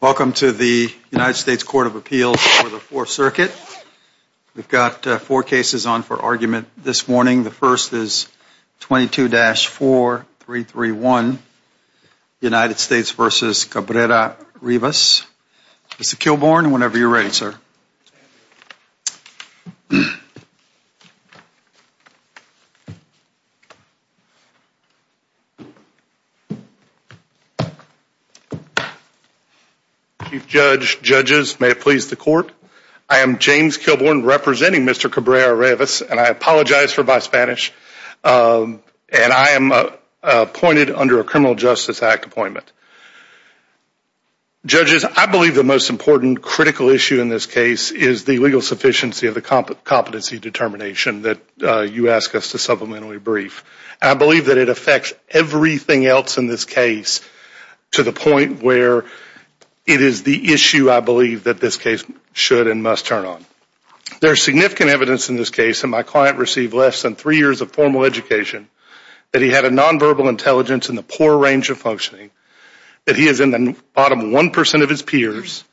Welcome to the United States Court of Appeals for the Fourth Circuit. We've got four cases on for argument this morning. The first is 22-4331, United States v. Cabrera-Rivas. Mr. Chief Judge, Judges, may it please the court. I am James Kilbourn representing Mr. Cabrera-Rivas, and I apologize for my Spanish, and I am appointed under a Criminal Justice Act appointment. Judges, I believe the most important critical issue in this case is the legal sufficiency of the competency determination that you ask us to supplementally brief. I believe that it affects everything else in this case to the point where it is the issue I believe that this case should and must turn on. There's significant evidence in this case, and my client received less than three years of formal education, that he had a nonverbal intelligence in the poor range of functioning, that he is in the bottom 1% of his peers,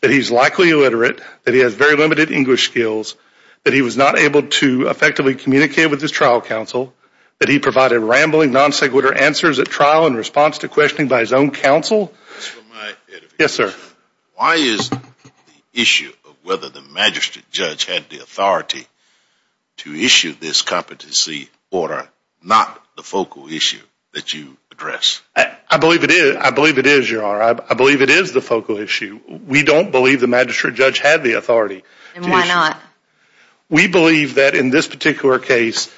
that he's likely illiterate, that he has very limited English skills, that he was not able to effectively communicate with his trial counsel, that he provided rambling non-sequitur answers at trial in response to questioning by his own counsel. Yes, sir. Why is the issue of whether the Magistrate Judge had the authority to issue this competency order not the focal issue that you address? I believe it is. I believe it is, Your Honor. I believe it is the focal issue. We don't believe the Magistrate Judge had the authority. We believe that in this particular case,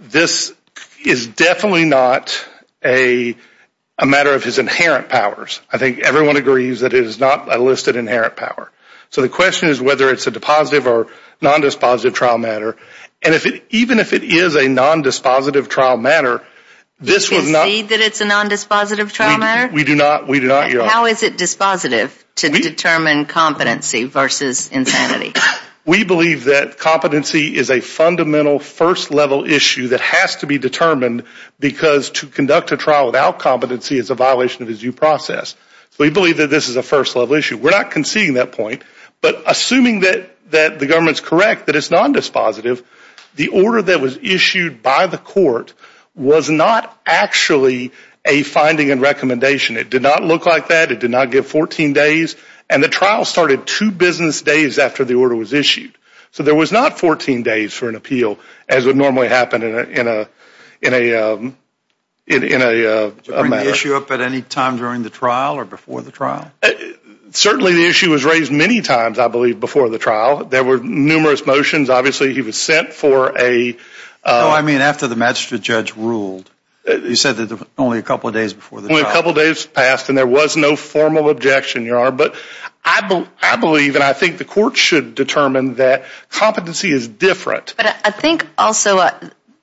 this is definitely not a matter of his inherent powers. I think everyone agrees that it is not a listed inherent power. So the question is whether it's a depositive or non-dispositive trial matter, and even if it is a non-dispositive trial matter, this was not... Do you concede that it's a non-dispositive trial matter? We do not, Your Honor. How is it dispositive to determine competency versus insanity? We believe that competency is a fundamental first-level issue that has to be determined because to conduct a trial without competency is a violation of his due process. So we believe that this is a first-level issue. We're not conceding that point, but assuming that the government's correct that it's non-dispositive, the order that was issued by the court was not actually a finding and recommendation. It did not look like that. It did not give 14 days, and the trial started two business days after the order was issued. So there was not 14 days for an appeal as would normally happen in a matter. Did you bring the issue up at any time during the trial or before the trial? Certainly, the issue was raised many times, I believe, before the trial. There were numerous motions. Obviously, he was sent for a... No, I mean after the magistrate judge ruled. He said that only a couple of days before the trial. Only a couple days passed, and there was no formal objection, Your Honor. But I believe, and I think the court should determine that competency is different. But I think also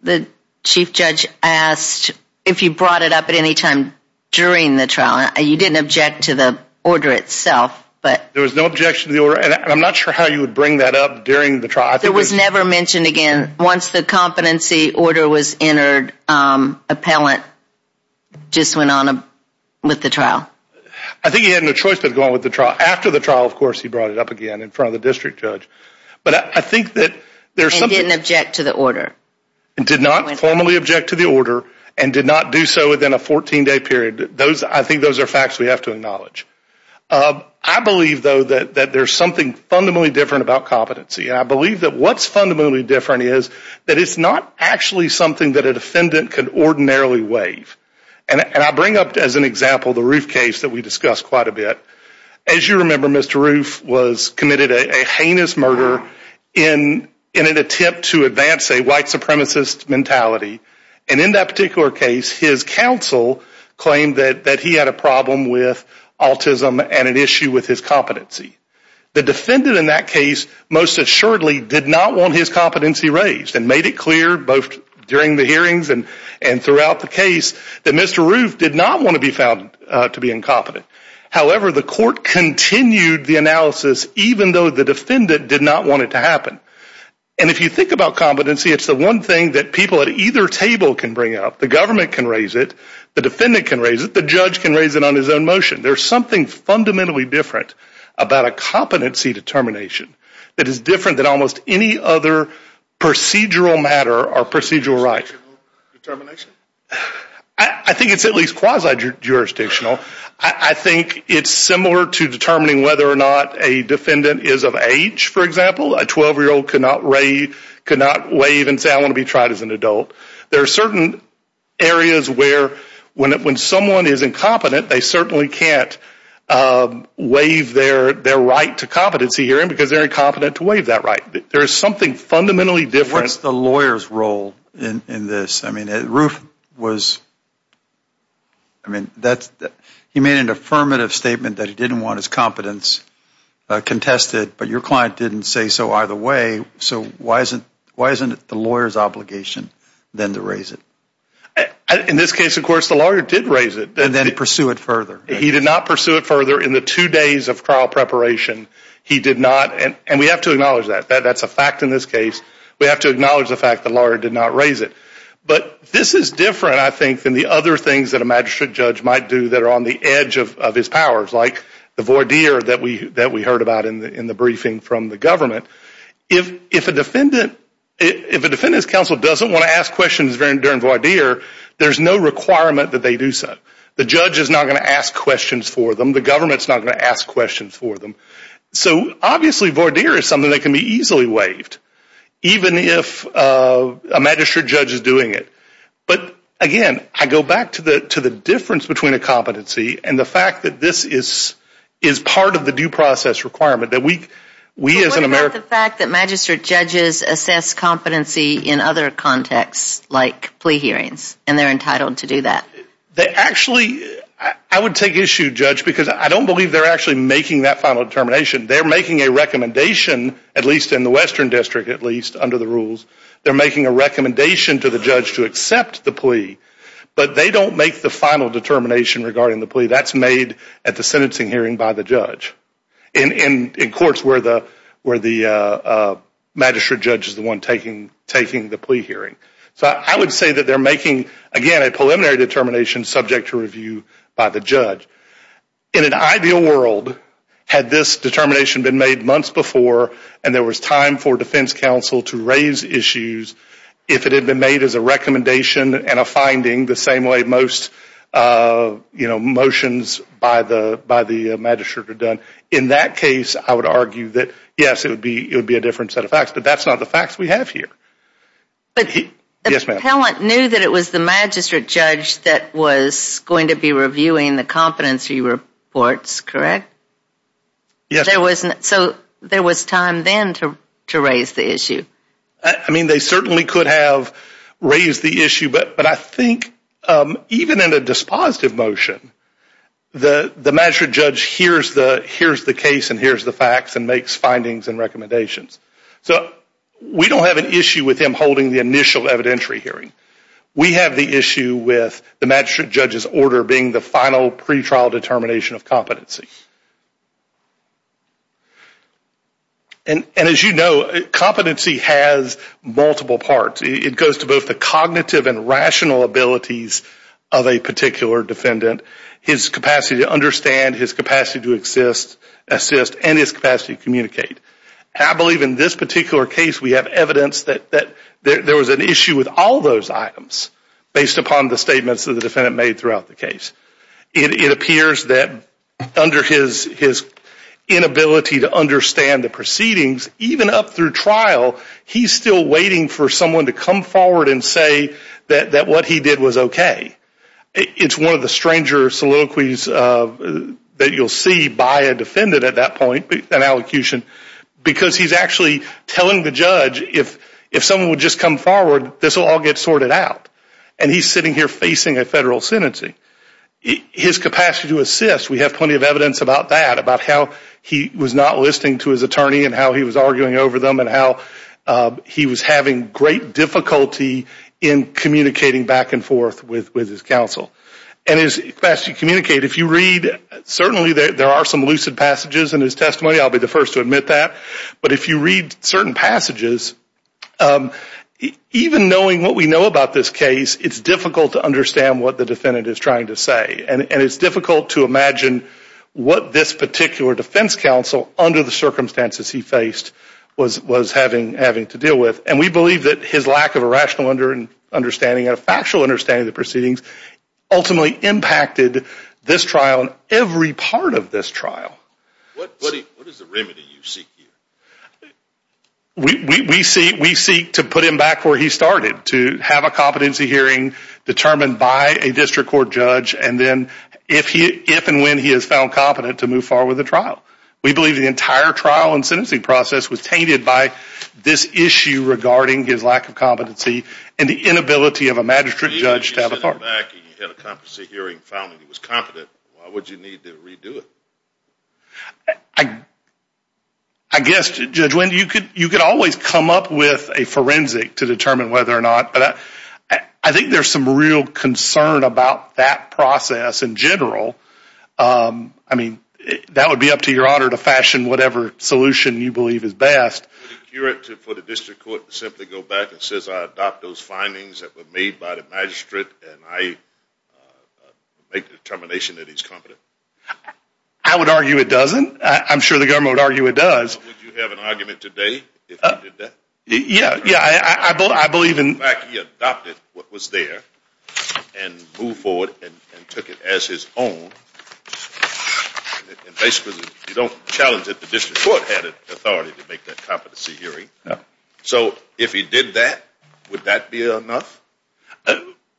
the chief judge asked if you brought it up at any time during the trial. You didn't object to the order itself, but... There was no objection to the order, and I'm not sure how you would bring that up during the trial. It was never mentioned again. Once the competency order was entered, the appellant just went on with the trial. I think he had no choice but to go on with the trial. After the trial, of course, he brought it up again in front of the district judge. But I think that there's something... He didn't object to the order. He did not formally object to the order and did not do so within a 14-day period. Those, I think, those are facts we have to acknowledge. I believe, though, that there's something fundamentally different about competency. I believe that what's fundamentally different is that it's not actually something that a defendant could ordinarily waive. And I bring up, as an example, the Roof case that we discussed quite a bit. As you remember, Mr. Roof was committed a heinous murder in an attempt to advance a white supremacist mentality. And in that particular case, his counsel claimed that he had a problem with autism and an issue with his competency. The defendant in that case, most assuredly, did not want his competency raised and made it clear, both during the hearings and and throughout the case, that Mr. Roof did not want to be found to be incompetent. However, the court continued the analysis, even though the defendant did not want it to happen. And if you think about competency, it's the one thing that people at either table can bring up. The government can raise it. The defendant can raise it. The judge can raise it on his own motion. There's something fundamentally different about a competency determination that is different than almost any other procedural matter or procedural right. I think it's at least quasi-jurisdictional. I think it's similar to determining whether or not a defendant is of age, for example. A 12-year-old could not waive and say, I want to be tried as an adult. There are certain areas where when someone is incompetent, they certainly can't waive their right to competency hearing because they're incompetent to waive that right. There is something fundamentally different. What's the lawyer's role in this? I mean, Roof was, I mean, he made an affirmative statement that he didn't want his competence contested, but your client didn't say so either way. So why isn't the lawyer's obligation then to raise it? In this case, of course, the lawyer did raise it. And then pursue it further. He did not pursue it further in the two days of trial preparation. He did not, and we have to acknowledge that. That's a fact in this case. We have to acknowledge the fact the lawyer did not raise it. But this is different, I think, than the other things that a magistrate judge might do that are on the edge of his powers, like the voir dire that we heard about in the briefing from the government. If a defendant, if a defendant's counsel doesn't want to ask questions during voir dire, there's no requirement that they do so. The judge is not going to ask questions for them. The government's not going to ask questions for them. So obviously voir dire is something that can be easily waived, even if a magistrate judge is doing it. But again, I go back to the difference between a competency and the fact that this is part of the due process requirement that we, we as an American... And they're entitled to do that. Actually, I would take issue, Judge, because I don't believe they're actually making that final determination. They're making a recommendation, at least in the Western District, at least under the rules. They're making a recommendation to the judge to accept the plea, but they don't make the final determination regarding the plea. That's made at the sentencing hearing by the judge, in courts where the, where the magistrate judge is the one taking, taking the plea hearing. So I would say that they're making, again, a preliminary determination subject to review by the judge. In an ideal world, had this determination been made months before, and there was time for defense counsel to raise issues, if it had been made as a recommendation and a finding the same way most, you know, motions by the, by the magistrate are done. In that case, I would argue that, yes, it would be, it would be a different set of facts, but that's not the facts we have here. But he, yes, ma'am. The appellant knew that it was the magistrate judge that was going to be reviewing the competency reports, correct? Yes. There wasn't, so there was time then to, to raise the issue. I mean, they certainly could have raised the issue, but, but I think even in a dispositive motion, the, the magistrate judge hears the, hears the case and hears the facts and makes findings and recommendations. So we don't have an issue with him holding the initial evidentiary hearing. We have the issue with the magistrate judge's order being the final pre-trial determination of competency. And, and as you know, competency has multiple parts. It goes to both the cognitive and rational abilities of a particular defendant, his capacity to understand, his capacity to assist, assist, and his capacity to communicate. I believe in this particular case, we have evidence that, that there was an issue with all those items based upon the statements of the defendant made throughout the case. It, it appears that under his, his inability to understand the proceedings, even up through trial, he's still waiting for someone to come forward and say that, that what he did was okay. It's one of the stranger soliloquies that you'll see by a defendant at that point, an allocution, because he's actually telling the judge if, if someone would just come forward, this will all get sorted out. And he's sitting here facing a federal sentencing. His capacity to assist, we have plenty of evidence about that, about how he was not listening to his attorney and how he was arguing over them and how he was having great difficulty in communicating back and forth with, with his counsel. And his capacity to communicate, if you read, certainly there are some lucid passages in his testimony, I'll be the first to admit that, but if you read certain passages, even knowing what we know about this case, it's difficult to understand what the defendant is trying to say. And, and it's difficult to imagine what this particular defense counsel, under the circumstances he faced, was, was having, having to deal with. And we believe that his lack of a rational under, understanding, a factual understanding of the proceedings, ultimately impacted this trial and every part of this trial. We, we, we seek, we seek to put him back where he started, to have a competency hearing determined by a district court judge, and then if he, if and when he has found competent to move forward with the trial. We believe the entire trial and sentencing process was tainted by this issue regarding his lack of competency and the inability of a magistrate judge to have authority. Even if you sent him back and you had a competency hearing, found that he was competent, why would you need to redo it? I, I guess, Judge Wendy, you could, you could always come up with a forensic to determine whether or not, but I, I think there's some real concern about that process in general. I mean, that would be up to your honor to fashion whatever solution you believe is best. Would it cure it for the district court to simply go back and says I adopt those findings that were made by the magistrate and I make the determination that he's competent? I would argue it doesn't. I'm sure the government would argue it does. Would you have an argument today if he did that? Yeah, yeah, I, I, I believe in. In fact, he adopted what was there and moved forward and took it as his own. Basically, you don't challenge that the district court had authority to make that competency hearing. Yeah, so if he did that, would that be enough?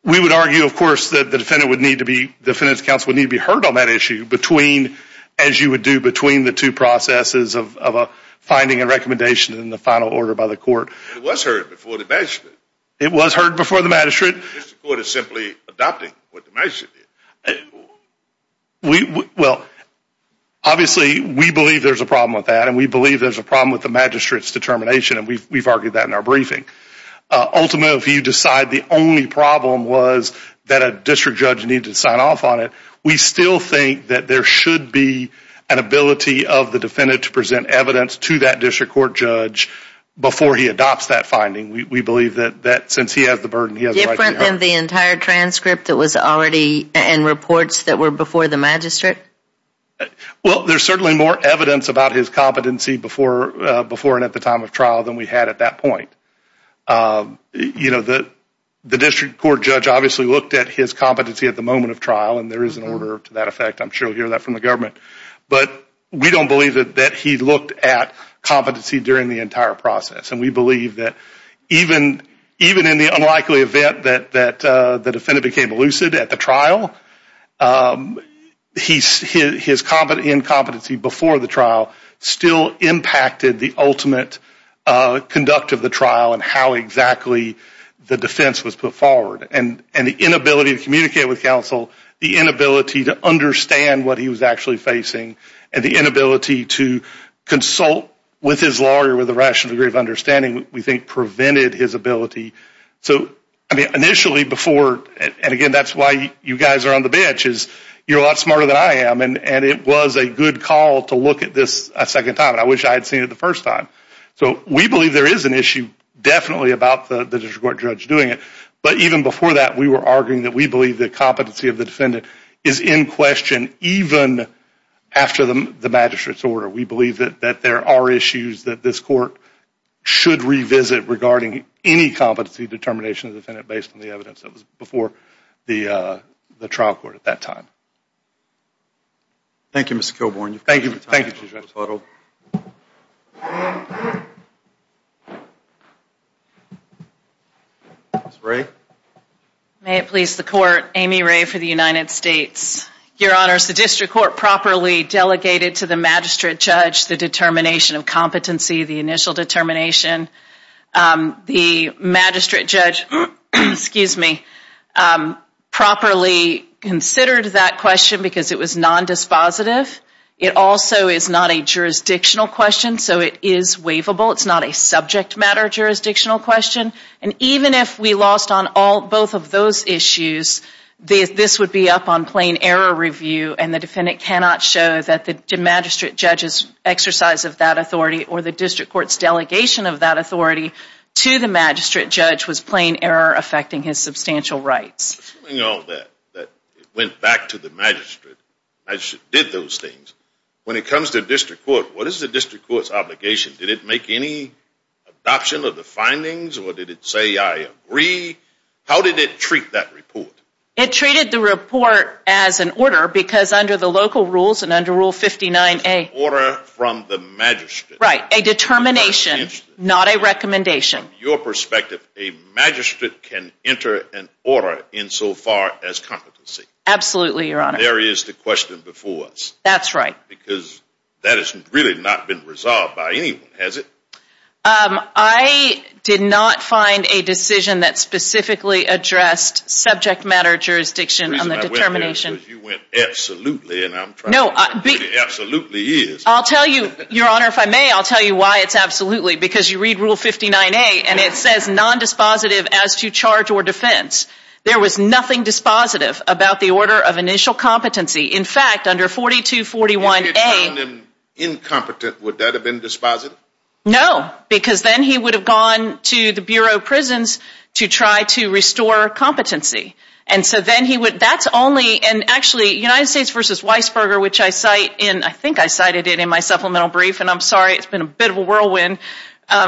We would argue, of course, that the defendant would need to be, the defendant's counsel would need to be heard on that issue between, as you would do between the two processes of a finding and recommendation in the final order by the court. It was heard before the magistrate. It was heard before the magistrate. The district court is simply adopting what the magistrate did. We, well, obviously, we believe there's a problem with that, and we believe there's a problem with the magistrate's determination, and we've argued that in our briefing. Ultimately, if you decide the only problem was that a district judge needed to sign off on it, we still think that there should be an ability of the defendant to present evidence to that district court judge before he adopts that finding. We believe that since he has the burden, he has the right to be heard. Different than the entire transcript that was already in reports that were before the magistrate? Well, there's certainly more evidence about his competency before and at the time of trial than we had at that point. You know, the district court judge obviously looked at his competency at the moment of trial, and there is an order to that effect. I'm sure you'll hear that from the government, but we don't believe that he looked at competency during the entire process, and we believe that even in the unlikely event that the defendant became elucid at the trial, his incompetency before the trial still impacted the ultimate conduct of the trial, and how exactly the defense was put forward, and the inability to communicate with counsel, the inability to understand what he was actually facing, and the inability to consult with his lawyer with a rational degree of understanding, we think prevented his ability. So, I mean, initially before, and again, that's why you guys are on the bench, is you're a lot smarter than I am, and it was a good call to look at this a second time, and I wish I had seen it the first time. So we believe there is an issue definitely about the district court judge doing it, but even before that, we were arguing that we believe the competency of the defendant is in question even after the magistrate's order. We believe that there are issues that this court should revisit regarding any competency determination of the defendant based on the evidence that was before the trial court at that time. Thank you, Mr. Kilborne. Thank you. Thank you. Ms. Ray. May it please the court, Amy Ray for the United States. Your Honors, the district court properly delegated to the magistrate judge the determination of competency, the initial determination. The magistrate judge, excuse me, properly considered that question because it was non-dispositive. It also is not a jurisdictional question, so it is waivable. It's not a subject matter jurisdictional question, and even if we lost on all both of those issues, this would be up on plain error review, and the defendant cannot show that the magistrate judge's exercise of that authority or the district court's delegation of that authority to the magistrate judge was plain error affecting his substantial rights. Assuming all that, that it went back to the magistrate, did those things, when it comes to district court, what is the district court's obligation? Did it make any adoption of the findings, or did it say I agree? How did it treat that report? It treated the report as an order because under the local rules and under Rule 59A, order from the magistrate. Right, a determination, not a recommendation. From your perspective, a magistrate can enter an order in so far as competency. Absolutely, Your Honor. There is the question before us. That's right. Because that has really not been resolved by anyone, has it? I did not find a decision that specifically addressed subject matter jurisdiction on the determination. You went absolutely, and I'm trying to figure out what absolutely is. I'll tell you, Your Honor, if I may, I'll tell you why it's absolutely, because you read Rule 59A, and it says non-dispositive as to charge or defense. There was nothing dispositive about the order of initial competency. In fact, under 4241A, incompetent, would that have been dispositive? No, because then he would have gone to the Bureau of Prisons to try to restore competency. And so then he would, that's only, and actually, United States v. Weisberger, which I cite in, I think I cited it in my supplemental brief, and I'm sorry, it's been a bit of a whirlwind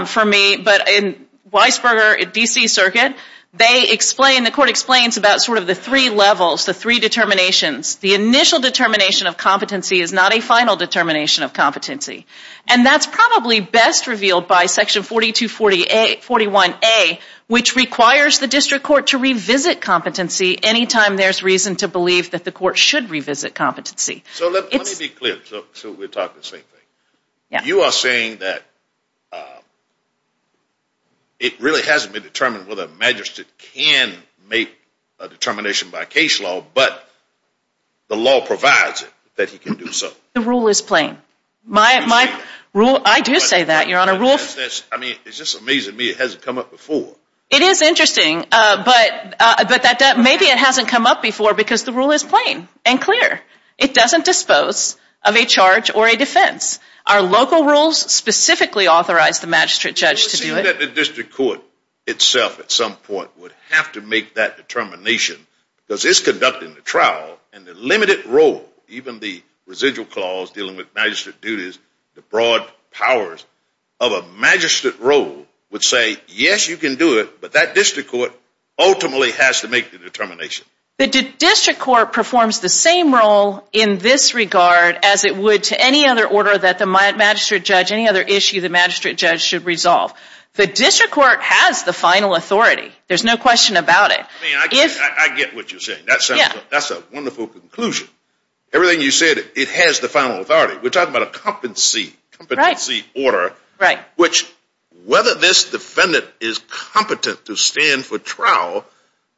for me, but in Weisberger at DC Circuit, they explain, the court explains, about sort of the three levels, the three determinations. The initial determination of competency is not a final determination of competency, and that's probably best revealed by Section 4241A, which requires the district court to revisit competency any time there's reason to believe that the court should revisit competency. So let me be clear, so we're talking the same thing. You are saying that it really hasn't been determined whether a magistrate can make a determination by case law, but the law provides it, that he can do so. The rule is plain. My rule, I do say that, Your Honor, rule... I mean, it's just amazing to me it hasn't come up before. It is interesting, but that maybe it hasn't come up before because the rule is plain and clear. It doesn't dispose of a charge or a defense. Our local rules specifically authorize the magistrate judge to do it. It would seem that the district court itself at some point would have to make that determination because it's conducting the trial and the limited role, even the residual clause dealing with magistrate duties, the broad powers of a magistrate role would say, yes, you can do it, but that district court ultimately has to make the determination. The district court performs the same role in this regard as it would to any other order that the magistrate judge, any other issue the magistrate judge should resolve. The district court has the final authority. There's no question about it. I mean, I get what you're saying. That's a wonderful conclusion. Everything you said, it has the final authority. We're talking about a competency order, which whether this defendant is competent to stand for trial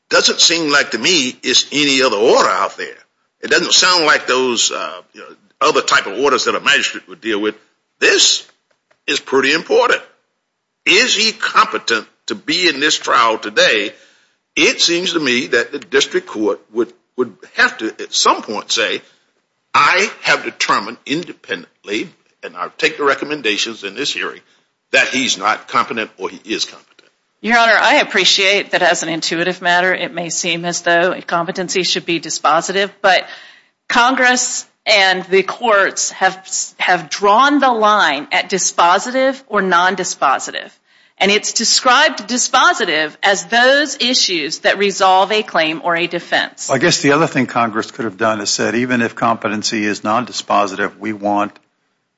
doesn't seem like to me is any other order out there. It doesn't sound like those other type of orders that a magistrate would deal with. This is pretty important. Is he competent to be in this trial today? It seems to me that the district court would have to at some point say, I have determined independently, and I'll take the recommendations in this hearing, that he's not competent or he is competent. Your Honor, I appreciate that as an intuitive matter, it may seem as though competency should be dispositive, but Congress and the courts have have drawn the line at dispositive or nondispositive. And it's described dispositive as those issues that resolve a claim or a defense. I guess the other thing Congress could have done is said, even if competency is nondispositive, we want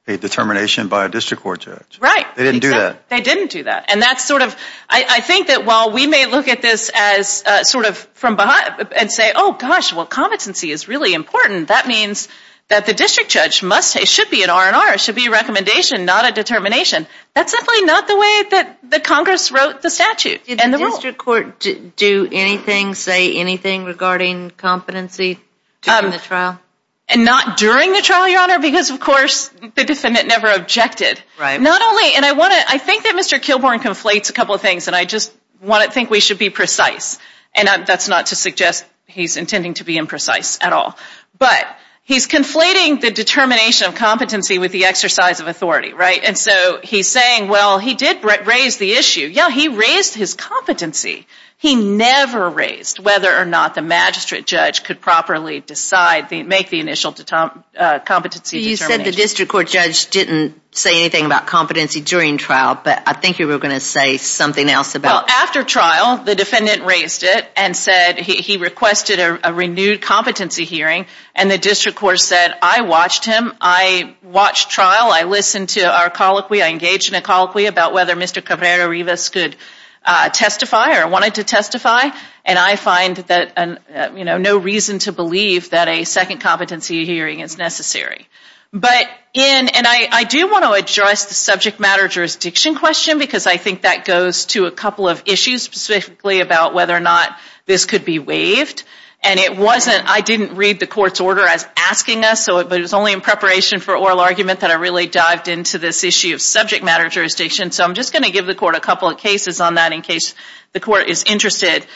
a determination by a district court judge. Right. They didn't do that. They didn't do that. And that's sort of, I think that while we may look at this as sort of from behind and say, oh gosh, well, competency is really important. That means that the district judge must, it should be an R&R, it should be a recommendation, not a determination. That's simply not the way that the Congress wrote the statute. Did the district court do anything, say anything regarding competency during the trial? And not during the trial, Your Honor, because of course the defendant never objected. Right. Not only, and I want to, I think that Mr. Kilbourn conflates a couple of things, and I just want to think we should be precise. And that's not to suggest he's intending to be imprecise at all. But he's conflating the determination of competency with the exercise of authority. Right. And so he's saying, well, he did raise the issue. Yeah, he raised his competency. He never raised whether or not the magistrate judge could properly decide, make the initial competency determination. You said the district court judge didn't say anything about competency during trial, but I think you were going to say something else about it. Well, after trial, the defendant raised it and said he requested a renewed competency hearing, and the district court said, I watched him, I watched trial, I listened to our colloquy, I engaged in a colloquy about whether Mr. Cabrera-Rivas could testify or wanted to testify, and I find that, you know, no reason to believe that a second competency hearing is necessary. But in, and I do want to address the subject matter jurisdiction question, because I think that goes to a couple of issues specifically about whether or not this could be waived, and it wasn't, I didn't read the court's order as asking us, so it was only in preparation for oral argument that I really dived into this issue of subject matter jurisdiction. So I'm just going to give the court a couple of cases on that in case the court is interested.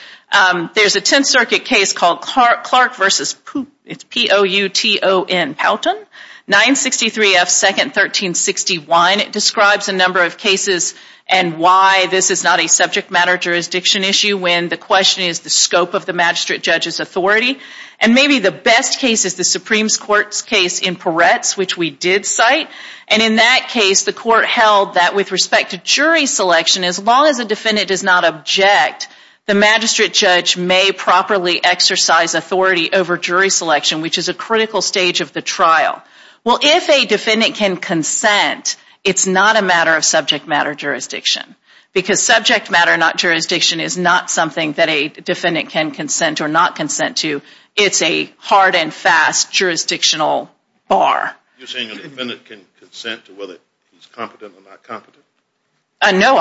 There's a Tenth Circuit case called Clark versus Pouton. 963 F. 2nd 1361. It describes a number of cases and why this is not a subject matter jurisdiction issue when the question is the scope of the magistrate judge's authority, and maybe the best case is the Supreme Court's case in Peretz, which we did cite, and in that case the court held that with respect to jury selection, as long as a defendant does not object, the magistrate judge may properly exercise authority over jury selection, which is a critical stage of the trial. Well, if a defendant can consent, it's not a matter of subject matter jurisdiction, because subject matter, not jurisdiction, is not something that a defendant can consent or not consent to. It's a hard and fast jurisdictional bar. No, I'm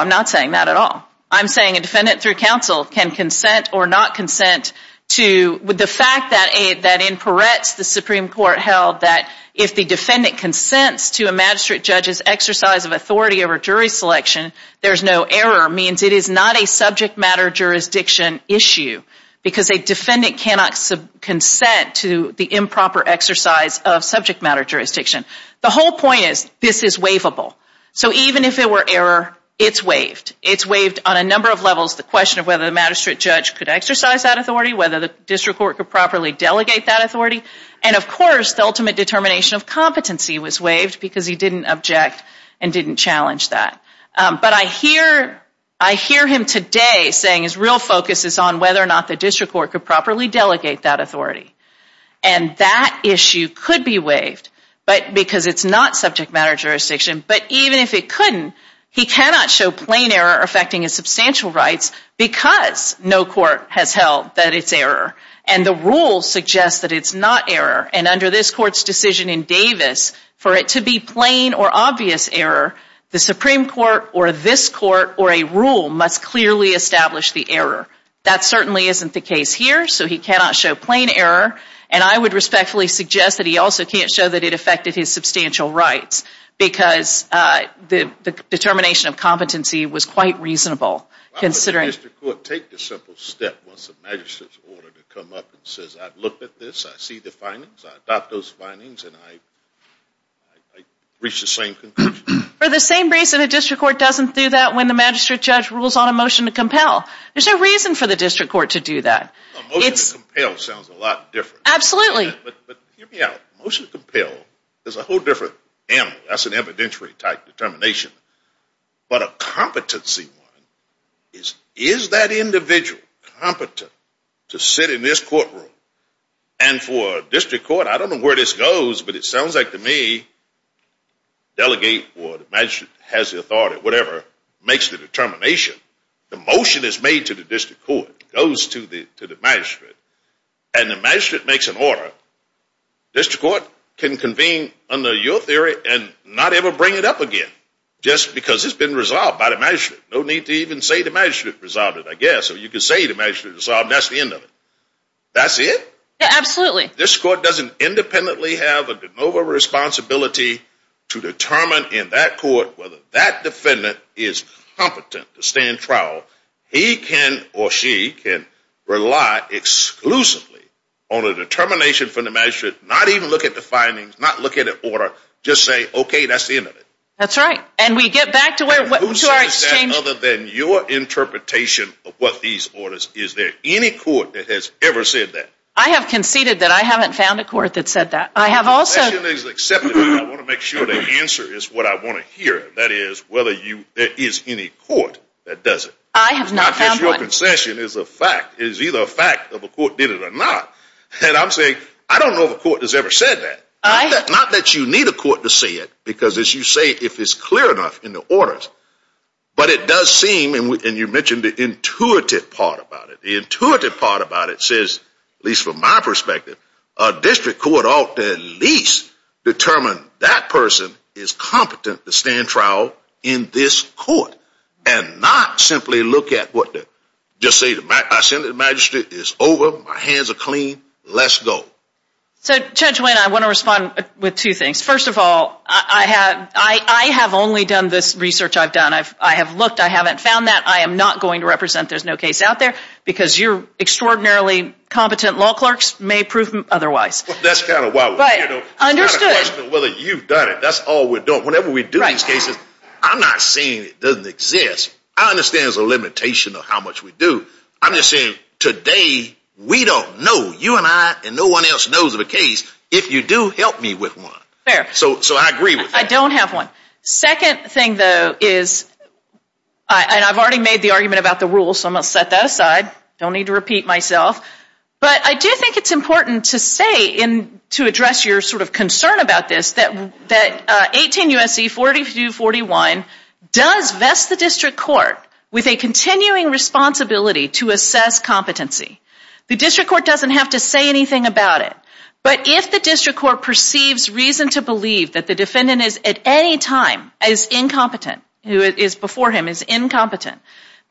not saying that at all. I'm saying a defendant through counsel can consent or not consent to the fact that in Peretz, the Supreme Court held that if the defendant consents to a magistrate judge's exercise of authority over jury selection, there's no error, means it is not a subject matter jurisdiction issue, because a defendant cannot consent to the improper exercise of subject matter jurisdiction. The whole point is this is waivable. So even if it were error, it's waived. It's waived on a number of levels, the question of whether the magistrate judge could exercise that authority, whether the district court could properly delegate that authority, and of course the ultimate determination of competency was waived because he didn't object and didn't challenge that. But I hear him today saying his real focus is on whether or not the district court could properly delegate that authority, and that issue could be waived, but because it's not subject matter jurisdiction, but even if it couldn't, he cannot show plain error affecting his substantial rights because no court has held that it's error, and the rule suggests that it's not error, and under this court's decision in Davis, for it to be plain or obvious error, the Supreme Court or this court or a rule must clearly establish the error. That certainly isn't the case here, so he cannot show plain error, and I would respectfully suggest that he also can't show that it affected his substantial rights, because the determination of competency was quite reasonable, considering... Why would the district court take the simple step once the magistrate's order to come up and says, I've looked at this, I see the findings, I adopt those findings, and I reach the same conclusion? For the same reason a district court doesn't do that when the magistrate judge rules on a motion to compel. There's no reason for the district court to do that. A motion to compel sounds a lot different. Absolutely. But hear me out. Motion to compel is a whole different animal. That's an evidentiary type determination, but a competency one is, is that individual competent to sit in this courtroom, and for a district court, I don't know where this goes, but it sounds like to me, delegate or the magistrate has the authority, whatever, makes the determination. The motion is made to the district court, goes to the magistrate, and the magistrate makes an order, district court can convene under your theory and not ever bring it up again, just because it's been resolved by the magistrate. No need to even say the magistrate resolved it, I guess, or you could say the magistrate resolved it, and that's the end of it. That's it? Absolutely. This court doesn't independently have a de novo responsibility to determine in that court whether that defendant is competent to stand trial. He can, or she can, rely exclusively on a determination from the magistrate, not even look at the findings, not look at an order, just say, okay, that's the end of it. That's right, and we get back to where, other than your interpretation of what these orders, is there any court that has ever said that? I have conceded that I haven't found a court that said that. I have also, I want to make sure the answer is what I want to hear, that is, whether you, there is any court that does it. I have not found one. I guess your concession is a fact, is either a fact of a court did it or not, and I'm saying, I don't know if a court has ever said that. Not that you need a court to say it, because as you say, if it's clear enough in the orders, but it does seem, and you mentioned the intuitive part about it, the intuitive part about it says, at least from my perspective, a district court ought to at least determine that person is competent to stand trial in this court, and not simply look at what the, just say, I send the magistrate, it's over, my hands are clean, let's go. So Judge Wayne, I want to respond with two things. First of all, I have only done this research I've done. I have looked, I haven't found that, I am not going to represent, there's no case out there, because your extraordinarily competent law clerks may prove them otherwise. That's kind of why we, you know, whether you've done it, that's all we're doing. Whenever we do these cases, I'm not saying it doesn't exist. I understand there's a limitation of how much we do. I'm just saying, today, we don't know, you and I, and no one else knows of a case. If you do, help me with one. Fair. So, so I agree with that. I don't have one. Second thing, though, is and I've already made the argument about the rules, so I'm going to set that aside, don't need to repeat myself, but I do think it's important to say, and to address your sort of concern about this, that 18 U.S.C. 4241 does vest the district court with a continuing responsibility to assess competency. The district court doesn't have to say anything about it, but if the district court perceives reason to believe that the defendant is at any time as incompetent, who is before him, is incompetent,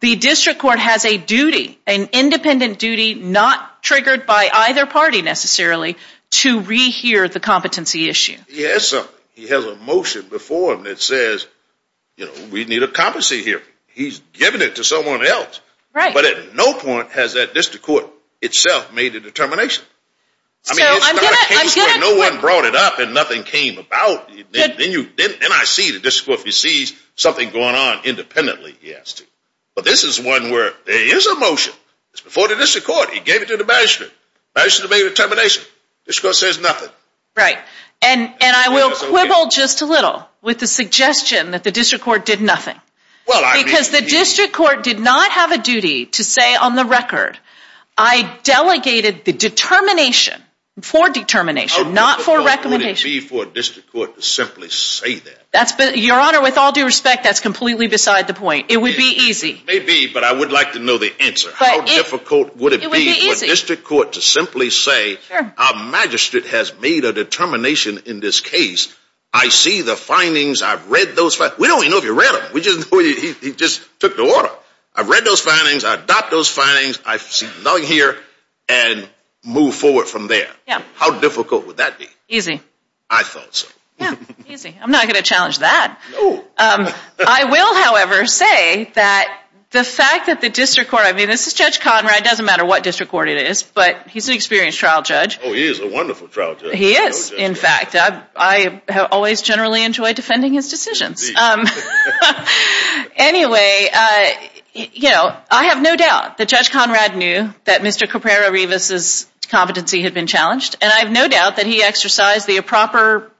the district court has a duty, an obligation, not triggered by either party, necessarily, to rehear the competency issue. Yes, he has a motion before him that says, you know, we need a competency here. He's giving it to someone else. Right. But at no point has that district court itself made a determination. I mean, it's not a case where no one brought it up and nothing came about. Then you, then I see the district court perceives something going on independently. Yes. But this is one where there is a motion. It's before the district court. He gave it to the banishment. The banishment made a determination. The district court says nothing. Right. And, and I will quibble just a little with the suggestion that the district court did nothing. Well, I mean. Because the district court did not have a duty to say on the record, I delegated the determination for determination, not for recommendation. Oh, it wouldn't be for a district court to simply say that. That's your honor. With all due respect, that's completely beside the point. It would be easy. Maybe, but I would like to know the answer. How difficult would it be for a district court to simply say, our magistrate has made a determination in this case. I see the findings. I've read those. We don't even know if he read them. We just know he just took the order. I've read those findings. I've got those findings. I see nothing here and move forward from there. Yeah. How difficult would that be? Easy. I thought so. I'm not going to challenge that. I will, however, say that the fact that the district court, I mean, this is Judge Conrad. It doesn't matter what district court it is, but he's an experienced trial judge. Oh, he is a wonderful trial judge. He is. In fact, I have always generally enjoyed defending his decisions. Anyway, you know, I have no doubt that Judge Conrad knew that Mr. Thacker, he exercised the proper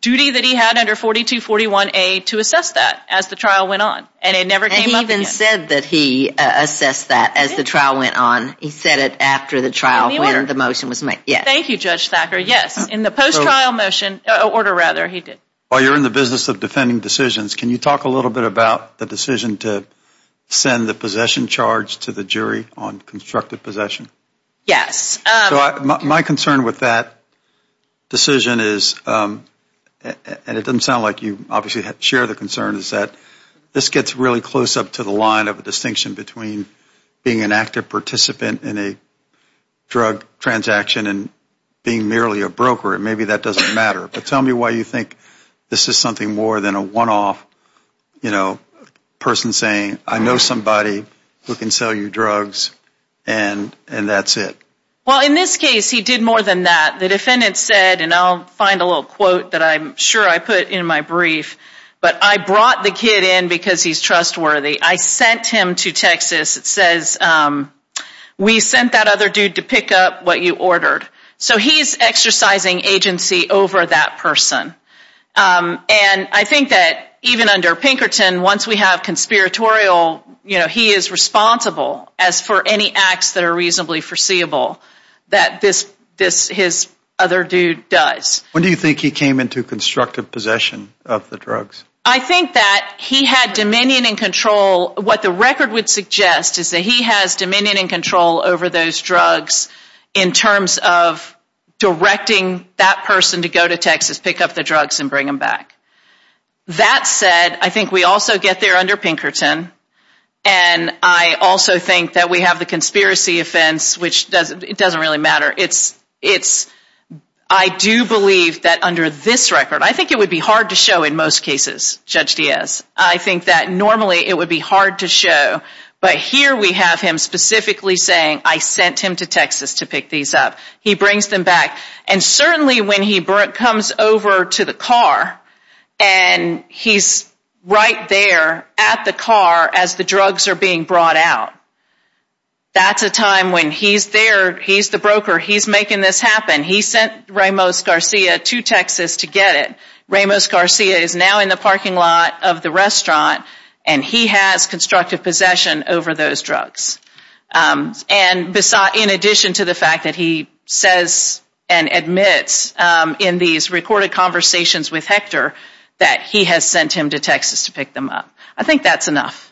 duty that he had under 4241A to assess that as the trial went on, and it never came up again. And he even said that he assessed that as the trial went on. He said it after the trial order, the motion was made. Thank you, Judge Thacker. Yes. In the post-trial motion, order rather, he did. While you're in the business of defending decisions, can you talk a little bit about the decision to send the possession charge to the jury on constructive possession? Yes. My concern with that decision is, and it doesn't sound like you obviously share the concern, is that this gets really close up to the line of a distinction between being an active participant in a drug transaction and being merely a broker. Maybe that doesn't matter, but tell me why you think this is something more than a one-off, you know, person saying, I know somebody who can sell you drugs, and that's it. Well, in this case, he did more than that. The defendant said, and I'll find a little quote that I'm sure I put in my brief, but I brought the kid in because he's trustworthy. I sent him to Texas. It says, we sent that other dude to pick up what you ordered. So he's exercising agency over that person. And I think that even under Pinkerton, once we have conspiratorial, you know, he is responsible as for any acts that are reasonably foreseeable that this, his other dude does. When do you think he came into constructive possession of the drugs? I think that he had dominion and control. What the record would suggest is that he has dominion and control over those drugs in terms of directing that person to go to Texas, pick up the drugs, and bring them back. That said, I think we also get there under Pinkerton, and I also think that we have the conspiracy offense, which it doesn't really matter. It's, I do believe that under this record, I think it would be hard to show in most cases, Judge Diaz. I think that normally it would be hard to show, but here we have him specifically saying, I sent him to Texas to pick these up. He brings them back. And certainly when he comes over to the car, and he's right there at the car as the drugs are being brought out, that's a time when he's there, he's the broker, he's making this happen. He sent Ramos Garcia to Texas to get it. Ramos Garcia is now in the parking lot of the restaurant, and he has constructive possession over those drugs. And in addition to the fact that he says and admits in these recorded conversations with Hector, that he has sent him to Texas to pick them up. I think that's enough.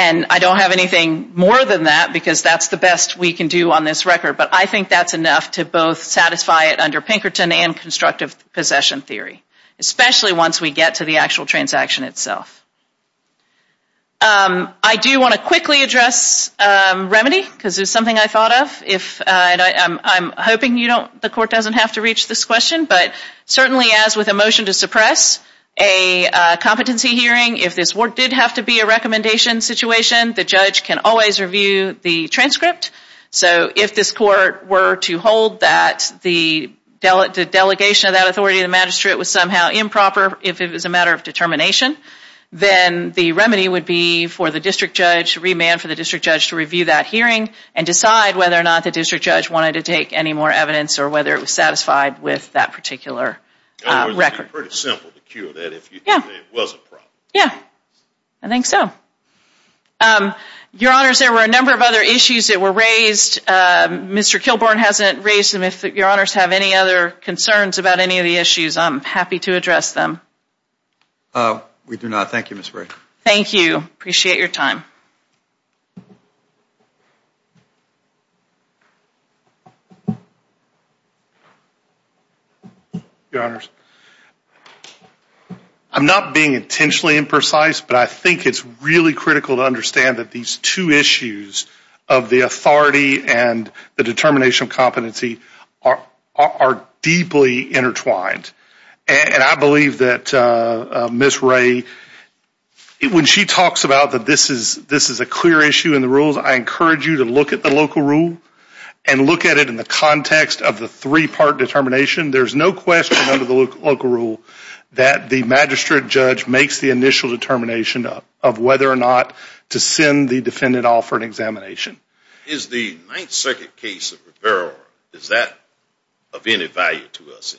And I don't have anything more than that, because that's the best we can do on this record, but I think that's enough to both satisfy it under Pinkerton and constructive possession theory. Especially once we get to the actual transaction itself. I do want to quickly address remedy, because it's something I thought of. I'm hoping the court doesn't have to reach this question, but certainly as with a motion to suppress a competency hearing, if this did have to be a recommendation situation, the judge can always review the transcript. So if this court were to hold that the delegation of that authority to the magistrate was somehow improper, if it was a matter of determination, then the remedy would be for the district judge, remand for the district judge to review that hearing and decide whether or not the district judge wanted to take any more evidence or whether it was satisfied with that particular record. It would be pretty simple to cure that if it was a problem. Yeah, I think so. Your Honors, there were a number of other issues that were raised. Mr. Kilbourne hasn't raised them. If Your Honors have any other concerns about any of the issues, I'm happy to address them. We do not. Thank you, Ms. Bray. Thank you. Appreciate your time. Your Honors, I'm not being intentionally imprecise, but I think it's really critical to understand that these two issues of the authority and the determination of competency are deeply intertwined. And I believe that Ms. Bray, when she talks about that this is a clear issue in the rules, I encourage you to look at the local rule and look at it in the context of the three-part determination. There's no question under the local rule that the magistrate judge makes the initial determination of whether or not to send the defendant off for an examination. Is the Ninth Circuit case of Barrow, is that of any value to us?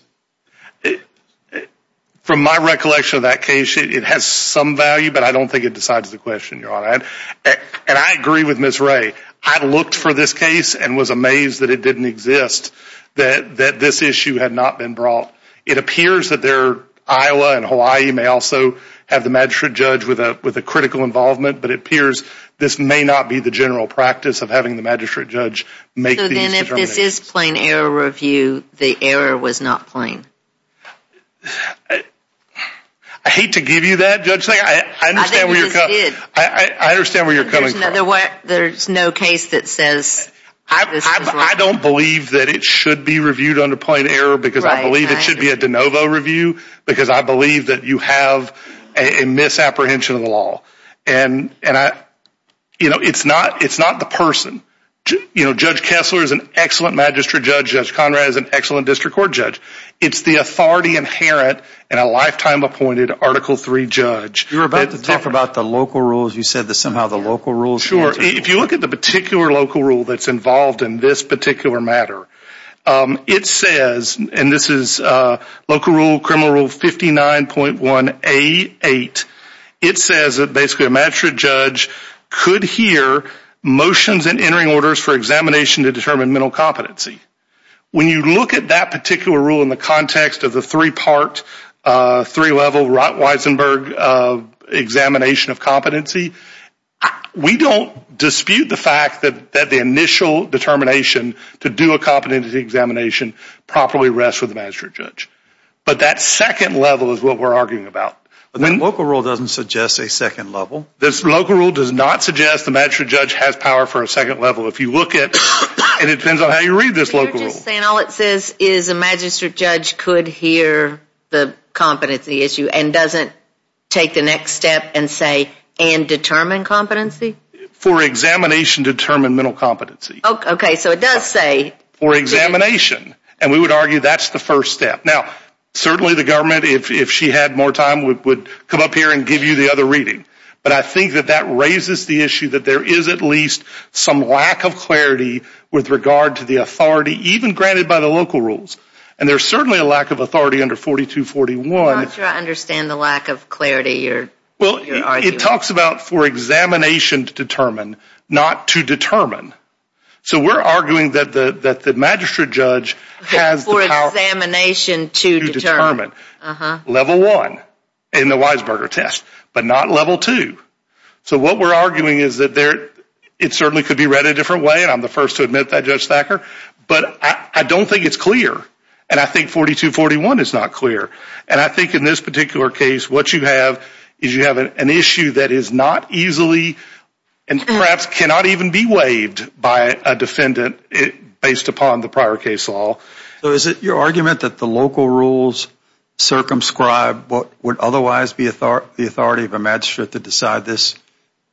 From my recollection of that case, it has some value, but I don't think it decides the question, Your Honor. And I agree with Ms. Bray. I looked for this case and was amazed that it didn't exist, that this issue had not been brought. It appears that Iowa and Hawaii may also have the magistrate judge with a critical involvement, but it appears this may not be the general practice of having the magistrate judge make these determinations. So then if this is plain error review, the error was not plain? I hate to give you that, Judge Singh. I understand where you're coming from. There's no case that says this was wrong? I don't believe that it should be reviewed under plain error because I believe it should be a de novo review because I believe that you have a misapprehension of the law. And, you know, it's not the person. You know, Judge Kessler is an excellent magistrate judge. Judge Conrad is an excellent district court judge. It's the authority inherent in a lifetime appointed Article III judge. You were about to talk about the local rules. You said that somehow the local rules. Sure. If you look at the particular local rule that's involved in this particular matter, it says, and this is local rule, criminal rule 59.1A8, it says that basically a magistrate judge could hear motions and entering orders for examination to determine mental competency. When you look at that particular rule in the context of the three-part, three-level Wisenberg examination of competency, we don't dispute the fact that the initial determination to do a competency examination probably rests with the magistrate judge. But that second level is what we're arguing about. But the local rule doesn't suggest a second level? The local rule does not suggest the magistrate judge has power for a second level. If you look at it, it depends on how you read this local rule. You're just saying all it says is a magistrate judge could hear the competency issue and doesn't take the next step and say and determine competency? For examination, determine mental competency. Okay. So it does say. For examination. And we would argue that's the first step. Now, certainly the government, if she had more time, would come up here and give you the other reading. But I think that that raises the issue that there is at least some lack of clarity with regard to the authority even granted by the local rules. And there's certainly a lack of authority under 4241. I'm not sure I understand the lack of clarity. Well, it talks about for examination to determine, not to determine. So we're arguing that the magistrate judge has the power. For examination to determine. Level one in the Weisberger test, but not level two. So what we're arguing is that it certainly could be read a different way. And I'm the first to admit that, Judge Thacker. But I don't think it's clear. And I think 4241 is not clear. And I think in this particular case, what you have is you have an issue that is not easily and perhaps cannot even be waived by a defendant based upon the prior case law. So is it your argument that the local rules circumscribe what would otherwise be the authority of a magistrate to decide this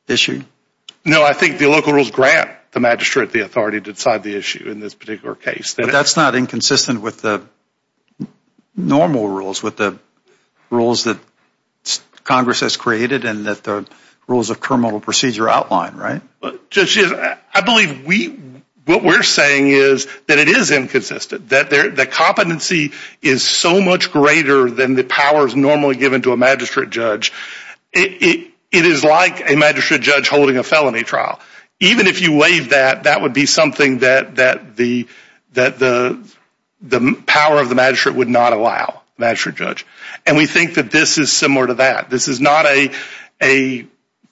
issue? No, I think the local rules grant the magistrate the authority to decide the issue in this particular case. But that's not inconsistent with the normal rules, with the rules that Congress has created and that the rules of criminal procedure outline, right? I believe what we're saying is that it is inconsistent. That competency is so much greater than the powers normally given to a magistrate judge. It is like a magistrate judge holding a felony trial. Even if you waive that, that would be something that the power of the magistrate would not allow, the magistrate judge. And we think that this is similar to that. This is not a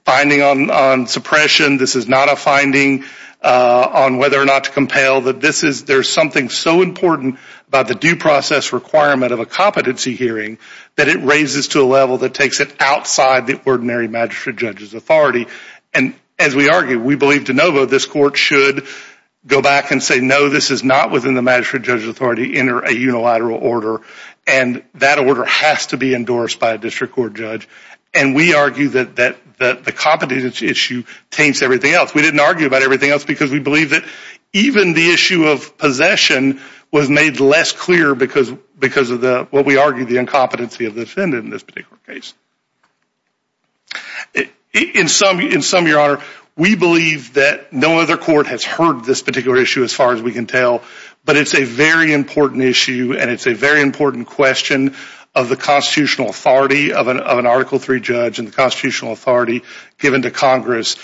finding on suppression. This is not a finding on whether or not to compel. There's something so important about the due process requirement of a competency hearing that it raises to a level that takes it outside the ordinary magistrate judge's authority. And as we argue, we believe de novo this court should go back and say, no, this is not within the magistrate judge's authority, enter a unilateral order. And that order has to be endorsed by a district court judge. And we argue that the competency issue taints everything else. We didn't argue about everything else because we believe that even the issue of possession was made less clear because of what we argue, the incompetency of the defendant in this particular case. In sum, Your Honor, we believe that no other court has heard this particular issue as far as we can tell. But it's a very important issue and it's a very important question of the constitutional authority of an Article III judge and the constitutional authority given to Congress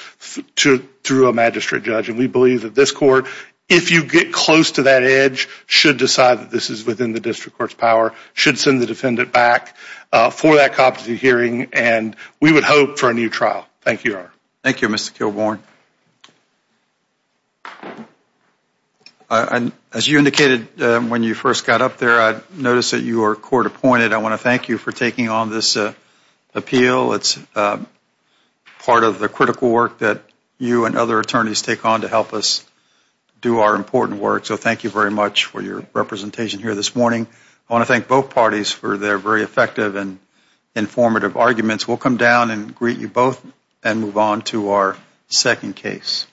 through a magistrate judge. And we believe that this court, if you get close to that edge, should decide that this is within the district court's power, should send the defendant back for that competency hearing. And we would hope for a new trial. Thank you, Your Honor. Thank you, Mr. Kilbourn. As you indicated when you first got up there, I noticed that you were court appointed. I want to thank you for taking on this appeal. It's part of the critical work that you and other attorneys take on to help us do our important work. So thank you very much for your representation here this morning. I want to thank both parties for their very effective and informative arguments. We'll come down and greet you both and move on to our second case.